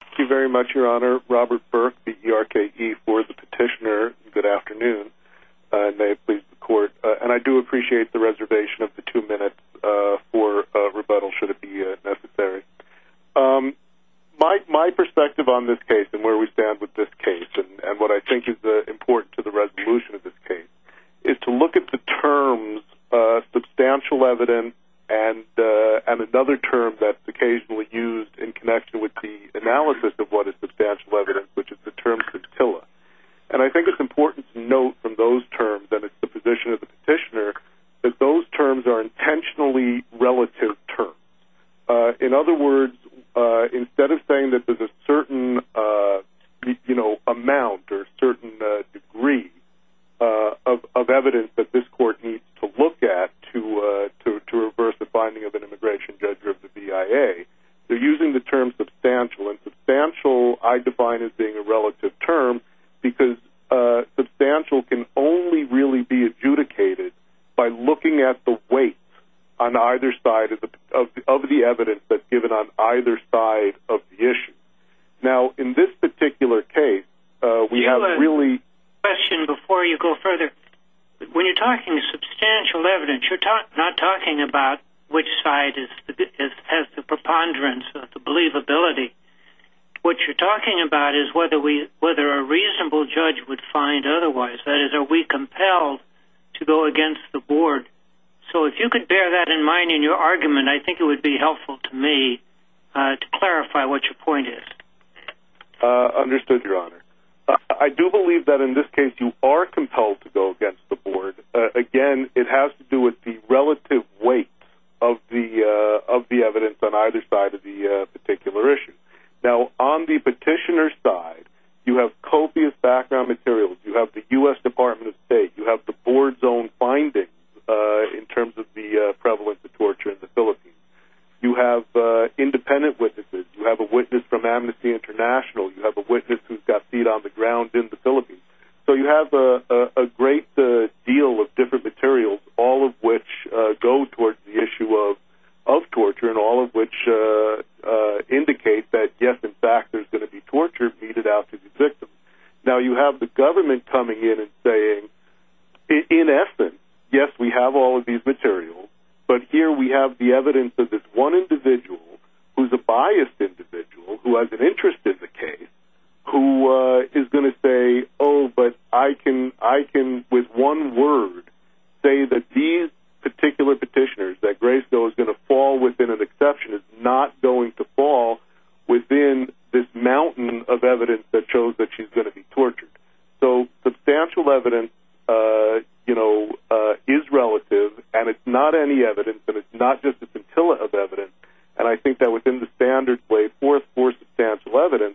Thank you very much, Your Honor. Robert Burke, B-E-R-K-E, for the petitioner. Good afternoon, and may it please the Court. And I do appreciate the reservation of the two minutes for rebuttal, should it be necessary. My perspective on this case and where we stand with this case, and what I think is important to the resolution of this case, is to look at the terms substantial evidence and another term that's occasionally used in connection with the analysis of what is substantial evidence, which is the term scintilla. And I think it's important to note from those terms, and it's the position of the petitioner, that those terms are intentionally relative terms. In other words, instead of saying that there's a certain amount or certain degree of evidence that this Court needs to look at to reverse the finding of an immigration judge or of the BIA, they're using the term substantial. And substantial, I define as being a relative term, because substantial can only really be adjudicated by looking at the weight of the evidence that's given on either side of the issue. Now, in this particular case, we have really... Can I ask a question before you go further? When you're talking substantial evidence, you're not talking about which side has the preponderance or the believability. What you're talking about is whether a reasonable judge would find otherwise. That is, are we compelled to go against the Board? So if you could bear that in mind in your argument, I think it would be helpful to me to clarify what your point is. Understood, Your Honor. I do believe that in this case you are compelled to go against the Board. Again, it has to do with the relative weight of the evidence on either side of the particular issue. Now, on the petitioner's side, you have copious background materials. You have the U.S. Department of State. You have the Board's own findings in terms of the prevalence of torture in the Philippines. You have independent witnesses. You have a witness from Amnesty International. You have a witness who's got feet on the ground in the Philippines. So you have a great deal of different materials, all of which go towards the issue of torture and all of which indicate that, yes, in fact, there's going to be torture meted out to the victim. Now, you have the government coming in and saying, in essence, yes, we have all of these materials, but here we have the evidence of this one individual who's a biased individual, who has an interest in the case, who is going to say, oh, but I can, with one word, say that these particular petitioners, that Grayskill is going to fall within an exception, is not going to fall within this mountain of evidence that shows that she's going to be tortured. So substantial evidence, you know, is relative, and it's not any evidence, but it's not just a scintilla of evidence. And I think that within the standards laid forth for substantial evidence,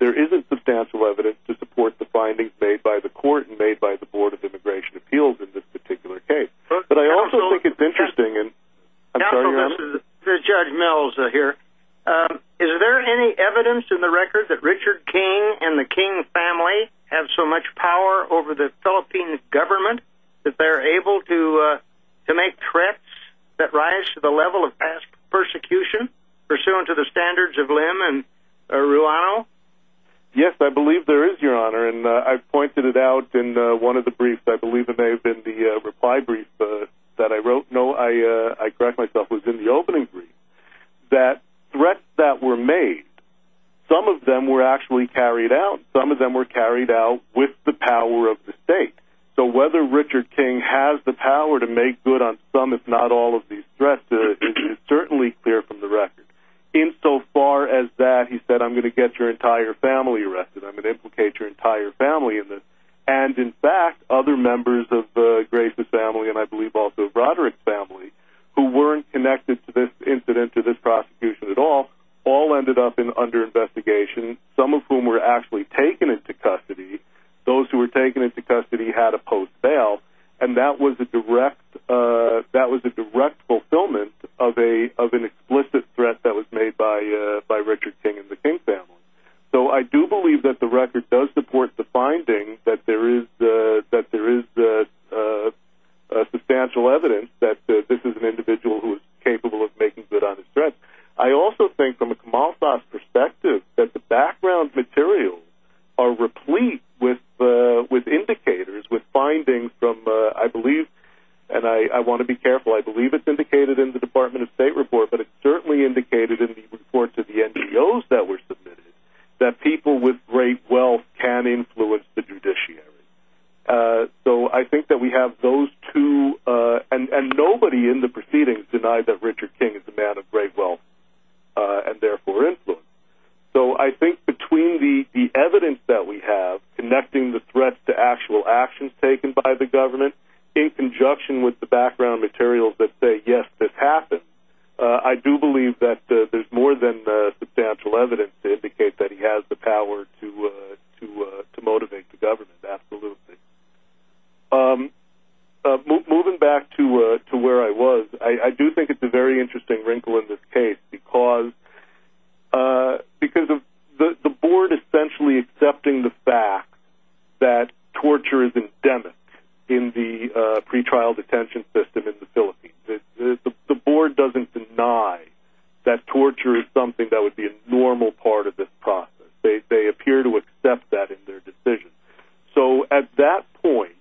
there isn't substantial evidence to support the findings made by the court and made by the Board of Immigration Appeals in this particular case. But I also think it's interesting, and I'm sorry to interrupt. Counsel, this is Judge Mills here. Is there any evidence in the record that Richard King and the King family have so much power over the Philippine government that they're able to make threats that rise to the level of past persecution, pursuant to the standards of Lim and Ruano? Yes, I believe there is, Your Honor, and I pointed it out in one of the briefs, and I believe it may have been the reply brief that I wrote. No, I correct myself, it was in the opening brief, that threats that were made, some of them were actually carried out. Some of them were carried out with the power of the state. So whether Richard King has the power to make good on some, if not all, of these threats is certainly clear from the record. Insofar as that, he said, I'm going to get your entire family arrested, I'm going to implicate your entire family in this. And, in fact, other members of Gray's family, and I believe also Broderick's family, who weren't connected to this incident, to this prosecution at all, all ended up under investigation, some of whom were actually taken into custody. Those who were taken into custody had a post bail, and that was a direct fulfillment of an explicit threat that was made by Richard King and the King family. So I do believe that the record does support the finding that there is substantial evidence that this is an individual who is capable of making good on his threats. I also think, from a Kamal Sass perspective, that the background materials are replete with indicators, with findings from, I believe, and I want to be careful, I believe it's indicated in the Department of State report, but it's certainly indicated in the report to the NGOs that were submitted, that people with great wealth can influence the judiciary. So I think that we have those two, and nobody in the proceedings denied that Richard King is a man of great wealth, and therefore influence. So I think between the evidence that we have, connecting the threats to actual actions taken by the government, in conjunction with the background materials that say, yes, this happened, I do believe that there's more than substantial evidence to indicate that he has the power to motivate the government, absolutely. Moving back to where I was, I do think it's a very interesting wrinkle in this case, because of the board essentially accepting the fact that torture is endemic in the pretrial detention system in the Philippines. The board doesn't deny that torture is something that would be a normal part of this process. They appear to accept that in their decision. So at that point,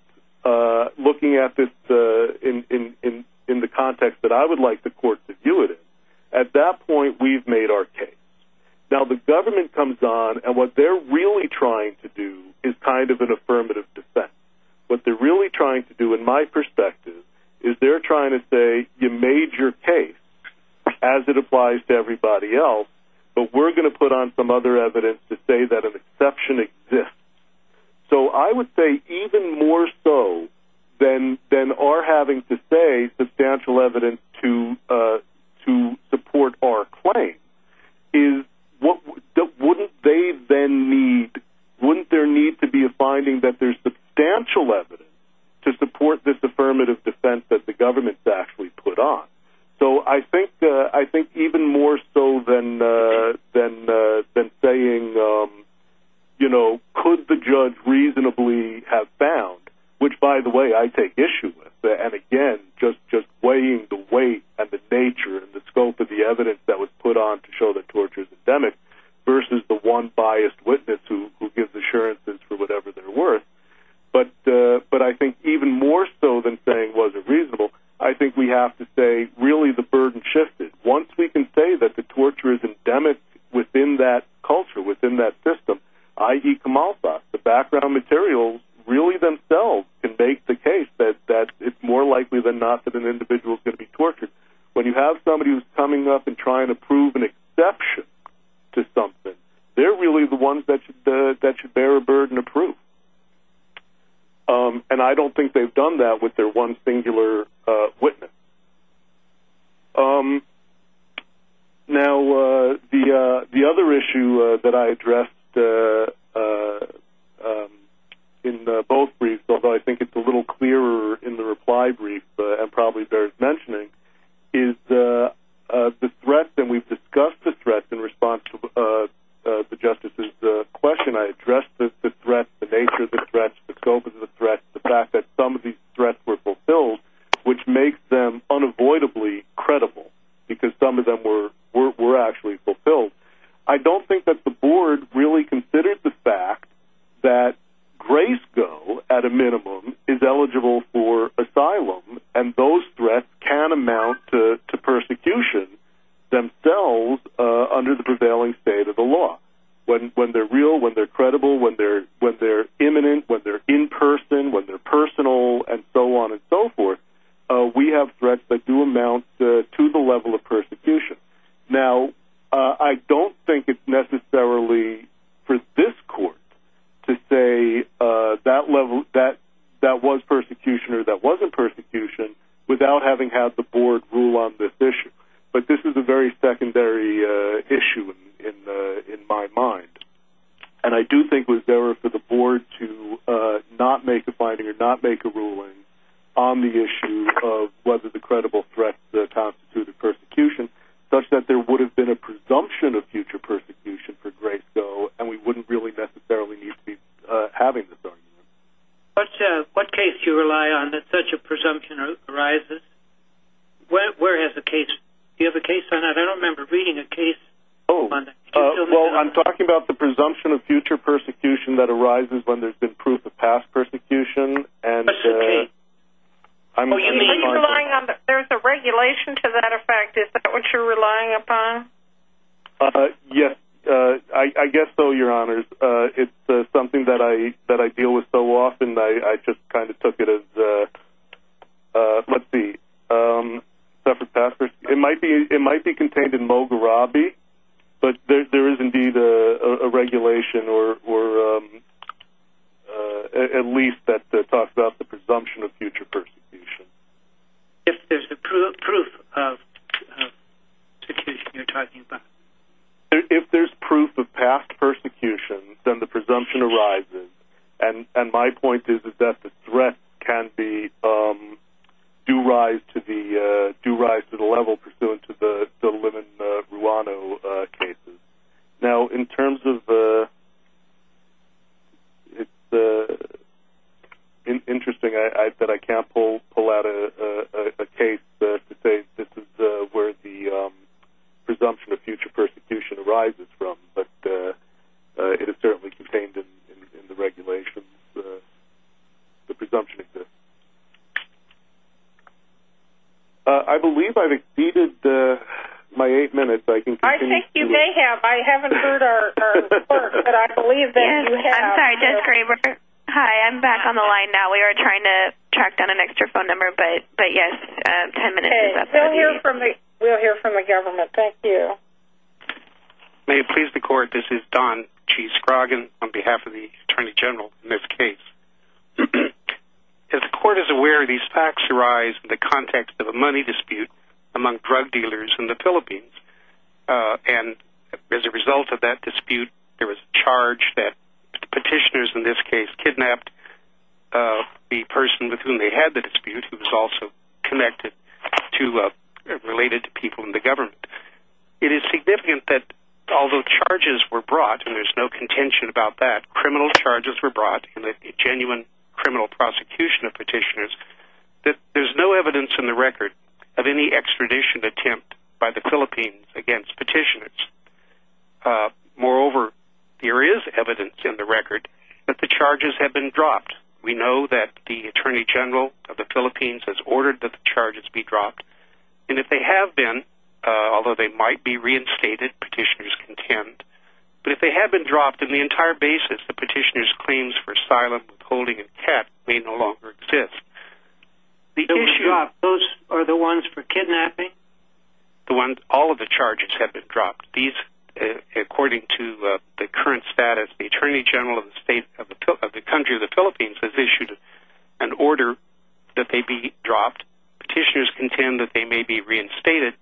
looking at this in the context that I would like the court to view it in, at that point we've made our case. Now the government comes on, and what they're really trying to do is kind of an affirmative defense. What they're really trying to do, in my perspective, is they're trying to say you made your case, as it applies to everybody else, but we're going to put on some other evidence to say that an exception exists. So I would say even more so than our having to say substantial evidence to support our claim, wouldn't there need to be a finding that there's substantial evidence to support this affirmative defense that the government's actually put on? So I think even more so than saying could the judge reasonably have found, which by the way I take issue with, and again just weighing the weight and the nature and the scope of the evidence that was put on to show that torture is endemic versus the one biased witness who gives assurances for whatever they're worth. But I think even more so than saying it wasn't reasonable, I think we have to say really the burden shifted. Once we can say that the torture is endemic within that culture, within that system, i.e. Kamalfa, the background materials really themselves can make the case that it's more likely than not that an individual is going to be tortured. When you have somebody who's coming up and trying to prove an exception to something, they're really the ones that should bear a burden of proof. And I don't think they've done that with their one singular witness. Now the other issue that I addressed in both briefs, although I think it's a little clearer in the reply brief and probably bears mentioning, is the threat, and we've discussed the threat in response to the Justice's question. I addressed the threat, the nature of the threat, the scope of the threat, the fact that some of these threats were fulfilled, which makes them unavoidably credible, because some of them were actually fulfilled. I don't think that the board really considered the fact that Graysco, at a minimum, is eligible for asylum, and those threats can amount to persecution themselves under the prevailing state of the law. When they're real, when they're credible, when they're imminent, when they're in person, when they're personal, and so on and so forth, Now, I don't think it's necessarily for this court to say that was persecution or that wasn't persecution without having had the board rule on this issue. But this is a very secondary issue in my mind. And I do think it was there for the board to not make a finding or not make a ruling on the issue of whether the credible threat constitutes a persecution, such that there would have been a presumption of future persecution for Graysco, and we wouldn't really necessarily need to be having this argument. What case do you rely on that such a presumption arises? Where is the case? Do you have a case on that? I don't remember reading a case on that. Well, I'm talking about the presumption of future persecution that arises when there's been proof of past persecution. There's a regulation to that effect. Is that what you're relying upon? Yes, I guess so, Your Honors. It's something that I deal with so often, I just kind of took it as, let's see, it might be contained in Moghrabi, but there is indeed a regulation, or at least that talks about the presumption of future persecution. If there's proof of persecution you're talking about. If there's proof of past persecution, then the presumption arises. And my point is that the threat can do rise to the level pursuant to the women in Rwanda cases. Now, in terms of the, it's interesting that I can't pull out a case to say this is where the presumption of future persecution arises from, but it is certainly contained in the regulations, the presumption exists. I believe I've exceeded my eight minutes. I think you may have. I haven't heard our report, but I believe that you have. I'm sorry, Judge Graber. Hi, I'm back on the line now. We were trying to track down an extra phone number, but yes, ten minutes is up. We'll hear from the government. Thank you. May it please the Court, this is Don G. Scroggins on behalf of the Attorney General in this case. If the Court is aware these facts arise in the context of a money dispute among drug dealers in the Philippines, and as a result of that dispute, there was a charge that petitioners in this case kidnapped the person with whom they had the dispute, who was also connected to, related to people in the government. It is significant that although charges were brought, and there's no contention about that, criminal charges were brought in the genuine criminal prosecution of petitioners, that there's no evidence in the record of any extradition attempt by the Philippines against petitioners. Moreover, there is evidence in the record that the charges have been dropped. We know that the Attorney General of the Philippines has ordered that the charges be dropped, and if they have been, although they might be reinstated, petitioners contend, but if they have been dropped, then the entire basis of petitioners' claims for asylum, withholding, and cat may no longer exist. Those are the ones for kidnapping? All of the charges have been dropped. According to the current status, the Attorney General of the country, the Philippines, has issued an order that they be dropped. Petitioners contend that they may be reinstated.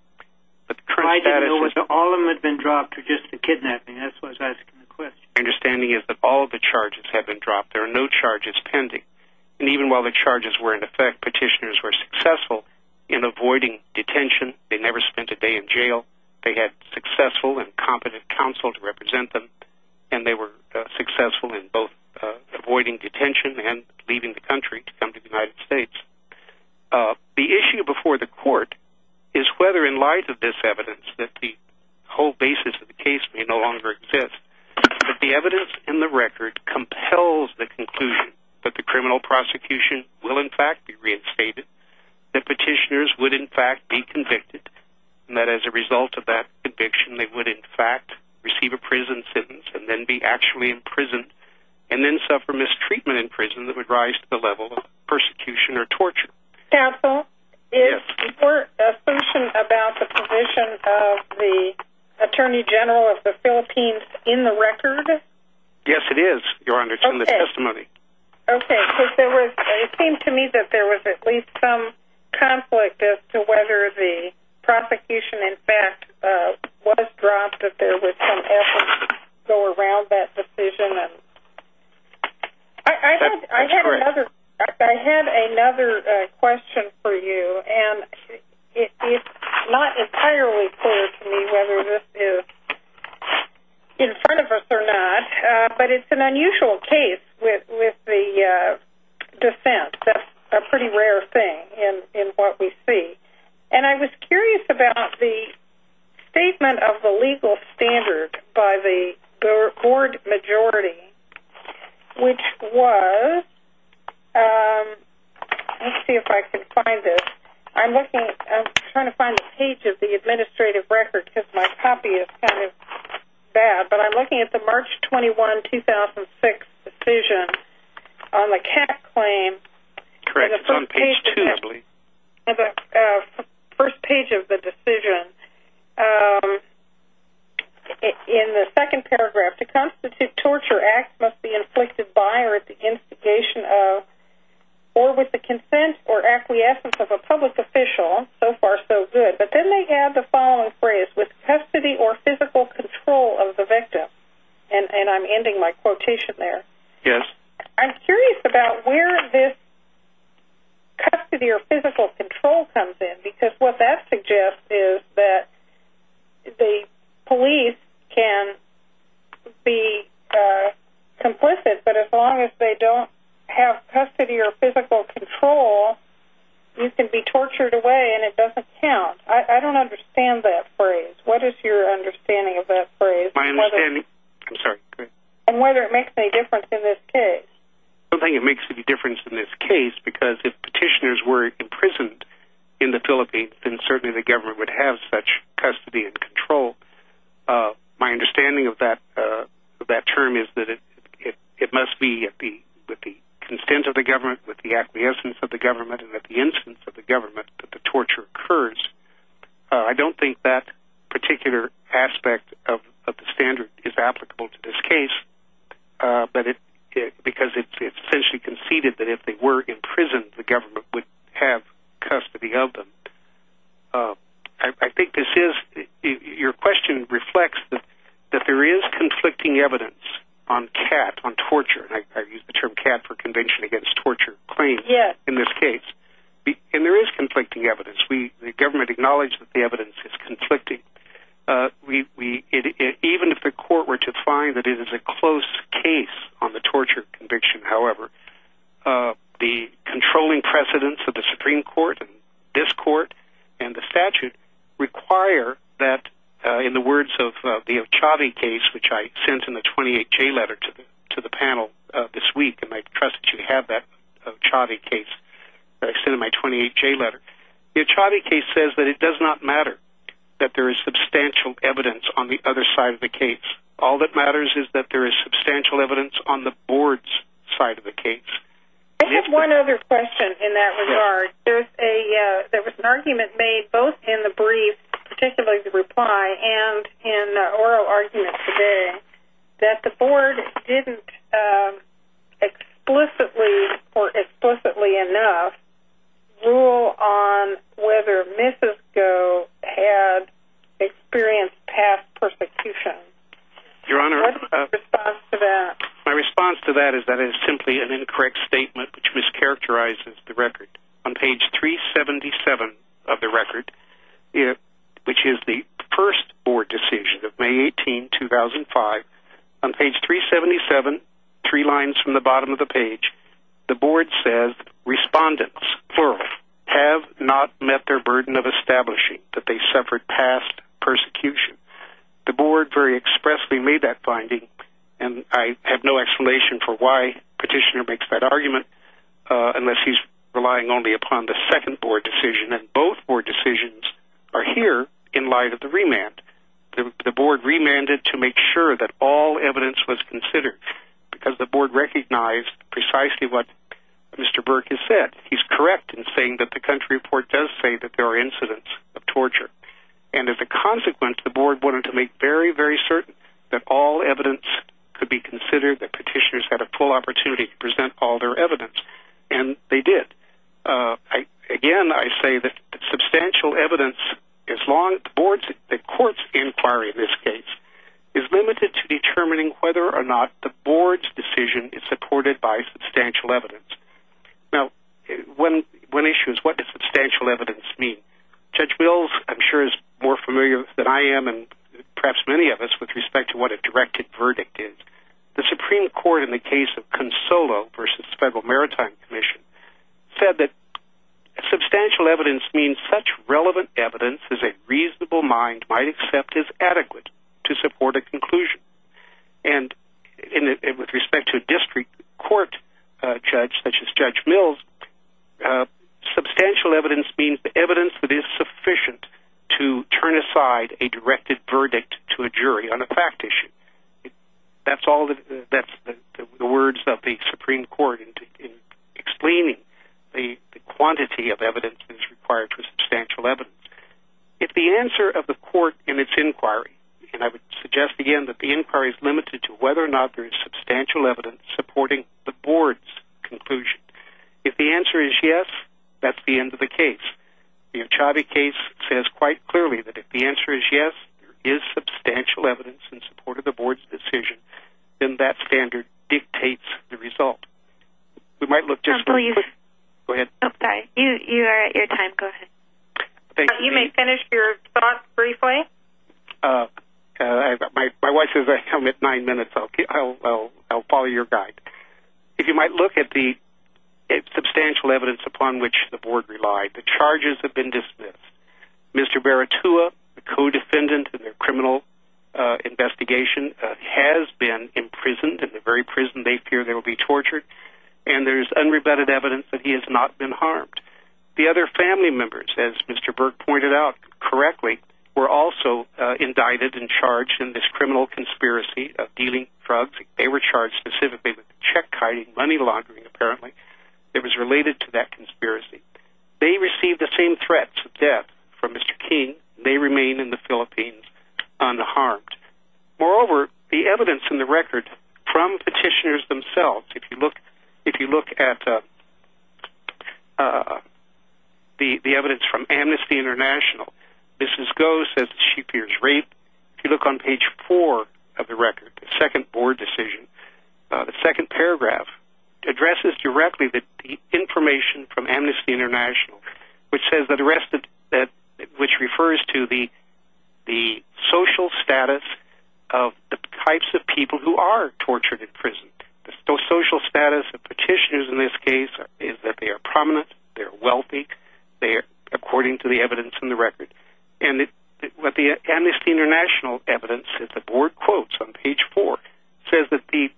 All of them have been dropped for just the kidnapping, that's what I was asking the question. My understanding is that all of the charges have been dropped, there are no charges pending. And even while the charges were in effect, petitioners were successful in avoiding detention, they never spent a day in jail, they had successful and competent counsel to represent them, and they were successful in both avoiding detention and leaving the country to come to the United States. The issue before the court is whether in light of this evidence that the whole basis of the case may no longer exist, that the evidence in the record compels the conclusion that the criminal prosecution will in fact be reinstated, that petitioners would in fact be convicted, and that as a result of that conviction they would in fact receive a prison sentence and then be actually imprisoned, and then suffer mistreatment in prison that would rise to the level of persecution or torture. Counsel, is your assumption about the position of the Attorney General of the Philippines in the record? Yes it is, Your Honor, it's in the testimony. Okay, because it seemed to me that there was at least some conflict as to whether the prosecution in fact was dropped, and that there was some effort to go around that decision. I had another question for you, and it's not entirely clear to me whether this is in front of us or not, but it's an unusual case with the defense. That's a pretty rare thing in what we see. And I was curious about the statement of the legal standard by the board majority, which was, let's see if I can find this, I'm looking, I'm trying to find the page of the administrative record because my copy is kind of bad, but I'm looking at the March 21, 2006 decision on the CAC claim. Correct, it's on page 2. The first page of the decision, in the second paragraph, to constitute torture acts must be inflicted by or at the instigation of, or with the consent or acquiescence of a public official, so far so good, but then they add the following phrase, with custody or physical control of the victim, and I'm ending my quotation there. Yes. I'm curious about where this custody or physical control comes in, because what that suggests is that the police can be complicit, but as long as they don't have custody or physical control, you can be tortured away and it doesn't count. I don't understand that phrase. What is your understanding of that phrase? My understanding, I'm sorry, go ahead. And whether it makes any difference in this case. I don't think it makes any difference in this case, because if petitioners were imprisoned in the Philippines, then certainly the government would have such custody and control. My understanding of that term is that it must be with the consent of the government, with the acquiescence of the government, and at the instance of the government that the torture occurs. I don't think that particular aspect of the standard is applicable to this case, because it's essentially conceded that if they were imprisoned, the government would have custody of them. I think this is, your question reflects that there is conflicting evidence on CAT, on torture, and I use the term CAT for Convention Against Torture Claim in this case, and there is conflicting evidence. The government acknowledged that the evidence is conflicting. Even if the court were to find that it is a close case on the torture conviction, however, the controlling precedence of the Supreme Court and this court and the statute require that, in the words of the Ochave case, which I sent in the 28-J letter to the panel this week, and I trust that you have that Ochave case that I sent in my 28-J letter, the Ochave case says that it does not matter that there is substantial evidence on the other side of the case. All that matters is that there is substantial evidence on the board's side of the case. I have one other question in that regard. There was an argument made both in the brief, particularly the reply, and in the oral argument today that the board didn't explicitly or explicitly enough rule on whether Missisco had experienced past persecution. Your Honor, my response to that is that it is simply an incorrect statement which mischaracterizes the record. On page 377 of the record, which is the first board decision of May 18, 2005, on page 377, three lines from the bottom of the page, the board says, Respondents, plural, have not met their burden of establishing that they suffered past persecution. The board very expressly made that finding, and I have no explanation for why Petitioner makes that argument unless he's relying only upon the second board decision. Both board decisions are here in light of the remand. The board remanded to make sure that all evidence was considered because the board recognized precisely what Mr. Burke has said. He's correct in saying that the country report does say that there are incidents of torture. As a consequence, the board wanted to make very, very certain that all evidence could be considered, that Petitioners had a full opportunity to present all their evidence, and they did. Again, I say that substantial evidence, the court's inquiry in this case, is limited to determining whether or not the board's decision is supported by substantial evidence. Now, one issue is what does substantial evidence mean? Judge Mills, I'm sure, is more familiar than I am and perhaps many of us with respect to what a directed verdict is. The Supreme Court, in the case of Consolo v. Federal Maritime Commission, said that substantial evidence means such relevant evidence as a reasonable mind might accept is adequate to support a conclusion. And with respect to a district court judge such as Judge Mills, substantial evidence means the evidence that is sufficient to turn aside a directed verdict to a jury on a fact issue. That's the words of the Supreme Court in explaining the quantity of evidence that is required for substantial evidence. If the answer of the court in its inquiry, and I would suggest again that the inquiry is limited to whether or not there is substantial evidence supporting the board's conclusion, if the answer is yes, that's the end of the case. The Anchovy case says quite clearly that if the answer is yes, there is substantial evidence in support of the board's decision, then that standard dictates the result. We might look just for a quick... Go ahead. Oh, sorry. You are at your time. Go ahead. Thank you. You may finish your thoughts briefly. My wife says I come at nine minutes. I'll follow your guide. If you might look at the substantial evidence upon which the board relied, the charges have been dismissed. Mr. Baratua, the co-defendant in the criminal investigation, has been imprisoned in the very prison they fear they will be tortured, and there is unrebutted evidence that he has not been harmed. The other family members, as Mr. Burke pointed out correctly, were also indicted and charged in this criminal conspiracy of dealing drugs. They were charged specifically with check-kiting, money laundering, apparently. It was related to that conspiracy. They received the same threats of death from Mr. King, and they remain in the Philippines unharmed. Moreover, the evidence in the record from petitioners themselves, if you look at the evidence from Amnesty International, Mrs. Go says that she appears raped. If you look on page four of the record, the second board decision, the second paragraph addresses directly the information from Amnesty International, which refers to the social status of the types of people who are tortured in prison. The social status of petitioners in this case is that they are prominent, they are wealthy, according to the evidence in the record. And what the Amnesty International evidence, the board quotes on page four, says that the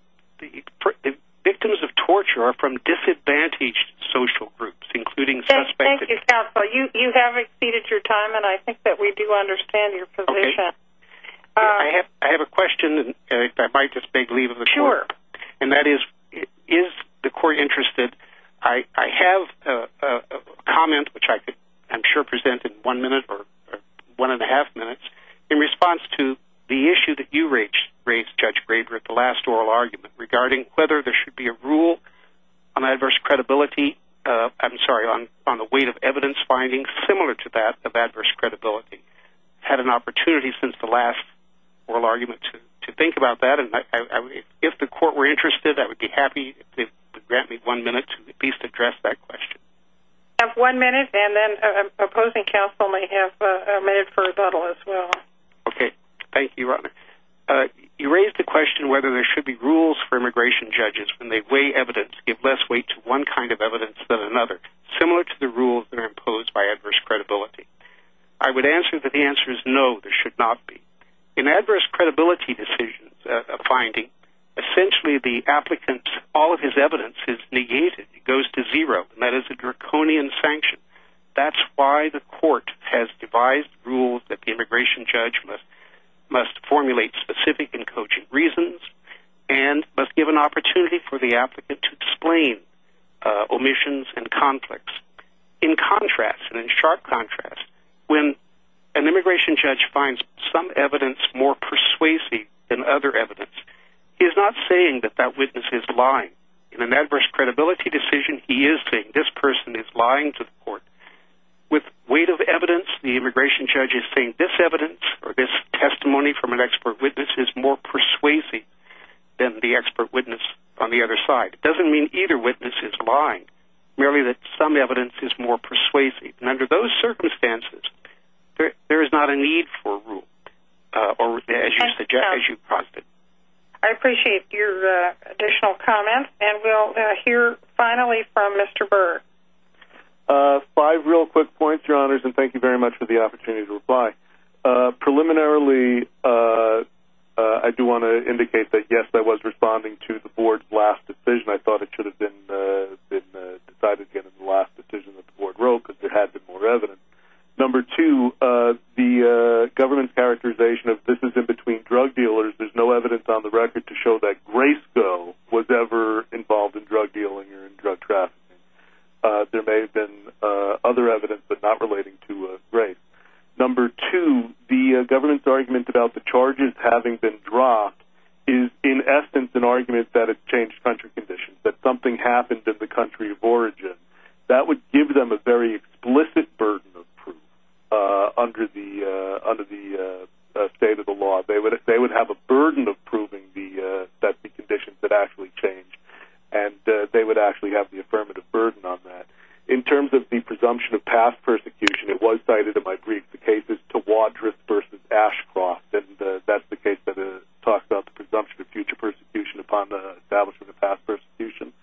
victims of torture are from disadvantaged social groups, including suspected... Thank you, counsel. You have exceeded your time, and I think that we do understand your position. I have a question, and if I might just beg leave of the court. Sure. And that is, is the court interested... I have a comment, which I'm sure I could present in one minute or one and a half minutes, in response to the issue that you raised, Judge Graber, at the last oral argument, regarding whether there should be a rule on adverse credibility... I'm sorry, on the weight of evidence findings similar to that of adverse credibility. I've had an opportunity since the last oral argument to think about that. If the court were interested, I would be happy if they would grant me one minute to at least address that question. You have one minute, and then opposing counsel may have a minute for rebuttal as well. Okay. Thank you, Ronna. You raised the question whether there should be rules for immigration judges when they weigh evidence, give less weight to one kind of evidence than another, similar to the rules that are imposed by adverse credibility. I would answer that the answer is no, there should not be. In adverse credibility decisions, a finding, essentially the applicant's... all of his evidence is negated. It goes to zero. That is a draconian sanction. That's why the court has devised rules that the immigration judge must formulate specific and cogent reasons and must give an opportunity for the applicant to explain omissions and conflicts. In contrast, and in sharp contrast, when an immigration judge finds some evidence more persuasive than other evidence, he is not saying that that witness is lying. In an adverse credibility decision, he is saying this person is lying to the court. With weight of evidence, the immigration judge is saying this evidence or this testimony from an expert witness is more persuasive than the expert witness on the other side. It doesn't mean either witness is lying. Merely that some evidence is more persuasive. Under those circumstances, there is not a need for a rule. I appreciate your additional comments. We'll hear finally from Mr. Berg. Five real quick points, Your Honors, and thank you very much for the opportunity to reply. Preliminarily, I do want to indicate that yes, I was responding to the board's last decision. I thought it should have been decided in the last decision that the board wrote because there had to be more evidence. Number two, the government's characterization of this is in between drug dealers, there's no evidence on the record to show that Graysco was ever involved in drug dealing or drug trafficking. There may have been other evidence, but not relating to Graysco. Number two, the government's argument about the charges having been dropped is in essence an argument that it changed country conditions, that something happened in the country of origin. That would give them a very explicit burden of proof under the state of the law. They would have a burden of proving that the conditions had actually changed, and they would actually have the affirmative burden on that. In terms of the presumption of past persecution, it was cited in my brief. The case is Tawadris v. Ashcroft, and that's the case that talks about the presumption of future persecution upon the establishment of past persecution.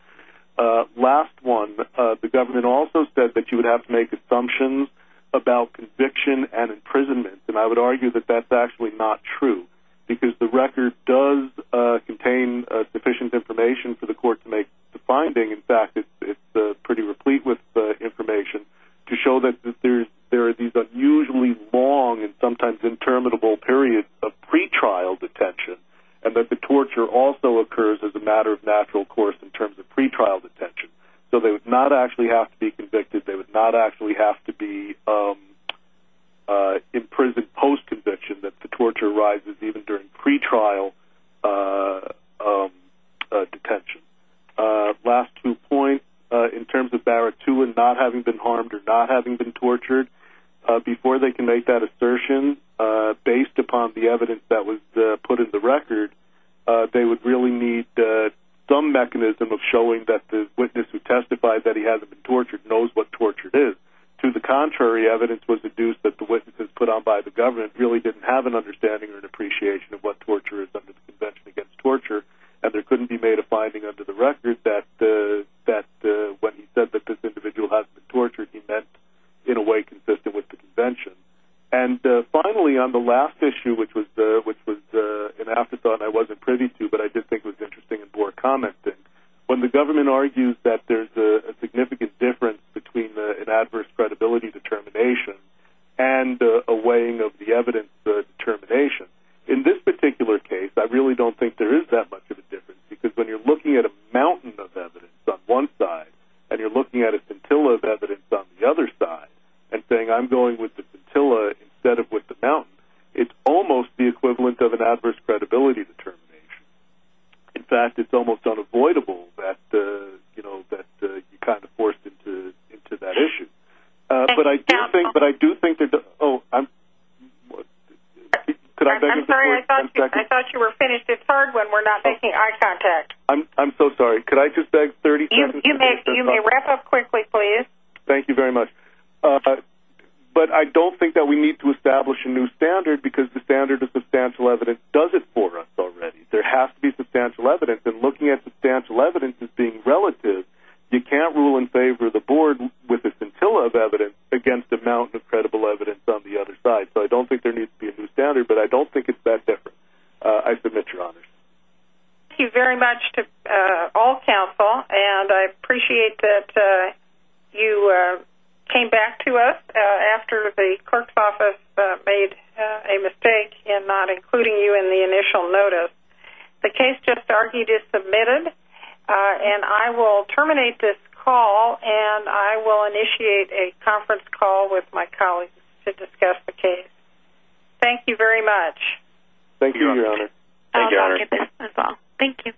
Last one, the government also said that you would have to make assumptions about conviction and imprisonment, and I would argue that that's actually not true, because the record does contain sufficient information for the court to make the finding. In fact, it's pretty replete with information to show that there are these unusually long and sometimes interminable periods of pretrial detention, and that the torture also occurs as a matter of natural course in terms of pretrial detention. So they would not actually have to be convicted. They would not actually have to be imprisoned post-conviction, that the torture arises even during pretrial detention. Last two points, in terms of Baratun not having been harmed or not having been tortured, before they can make that assertion, based upon the evidence that was put in the record, they would really need some mechanism of showing that the witness who testified that he hasn't been tortured knows what torture is. To the contrary, evidence was deduced that the witnesses put on by the government really didn't have an understanding or an appreciation of what torture is under the Convention Against Torture, and there couldn't be made a finding under the record that when he said that this individual hasn't been tortured, he meant in a way consistent with the Convention. And finally, on the last issue, which was an afterthought I wasn't privy to, but I did think was interesting and bore commenting, when the government argues that there's a significant difference between an adverse credibility determination and a weighing of the evidence determination, in this particular case I really don't think there is that much of a difference, because when you're looking at a mountain of evidence on one side, and you're looking at a scintilla of evidence on the other side, and saying I'm going with the scintilla instead of with the mountain, it's almost the equivalent of an adverse credibility determination. In fact, it's almost unavoidable that you're kind of forced into that issue. I'm sorry, I thought you were finished at 3rd when we're not making eye contact. I'm so sorry. Could I just beg 30 seconds to finish this up? You may wrap up quickly, please. Thank you very much. But I don't think that we need to establish a new standard, because the standard of substantial evidence does it for us already. There has to be substantial evidence, and looking at substantial evidence as being relative, you can't rule in favor of the board with a scintilla of evidence against a mountain of credible evidence on the other side. So I don't think there needs to be a new standard, but I don't think it's that different. I submit your honors. Thank you very much to all counsel, and I appreciate that you came back to us after the clerk's office made a mistake in not including you in the initial notice. The case just argued is submitted, and I will terminate this call, and I will initiate a conference call with my colleagues to discuss the case. Thank you very much. Thank you, Your Honor. Thank you, Your Honor. Thank you.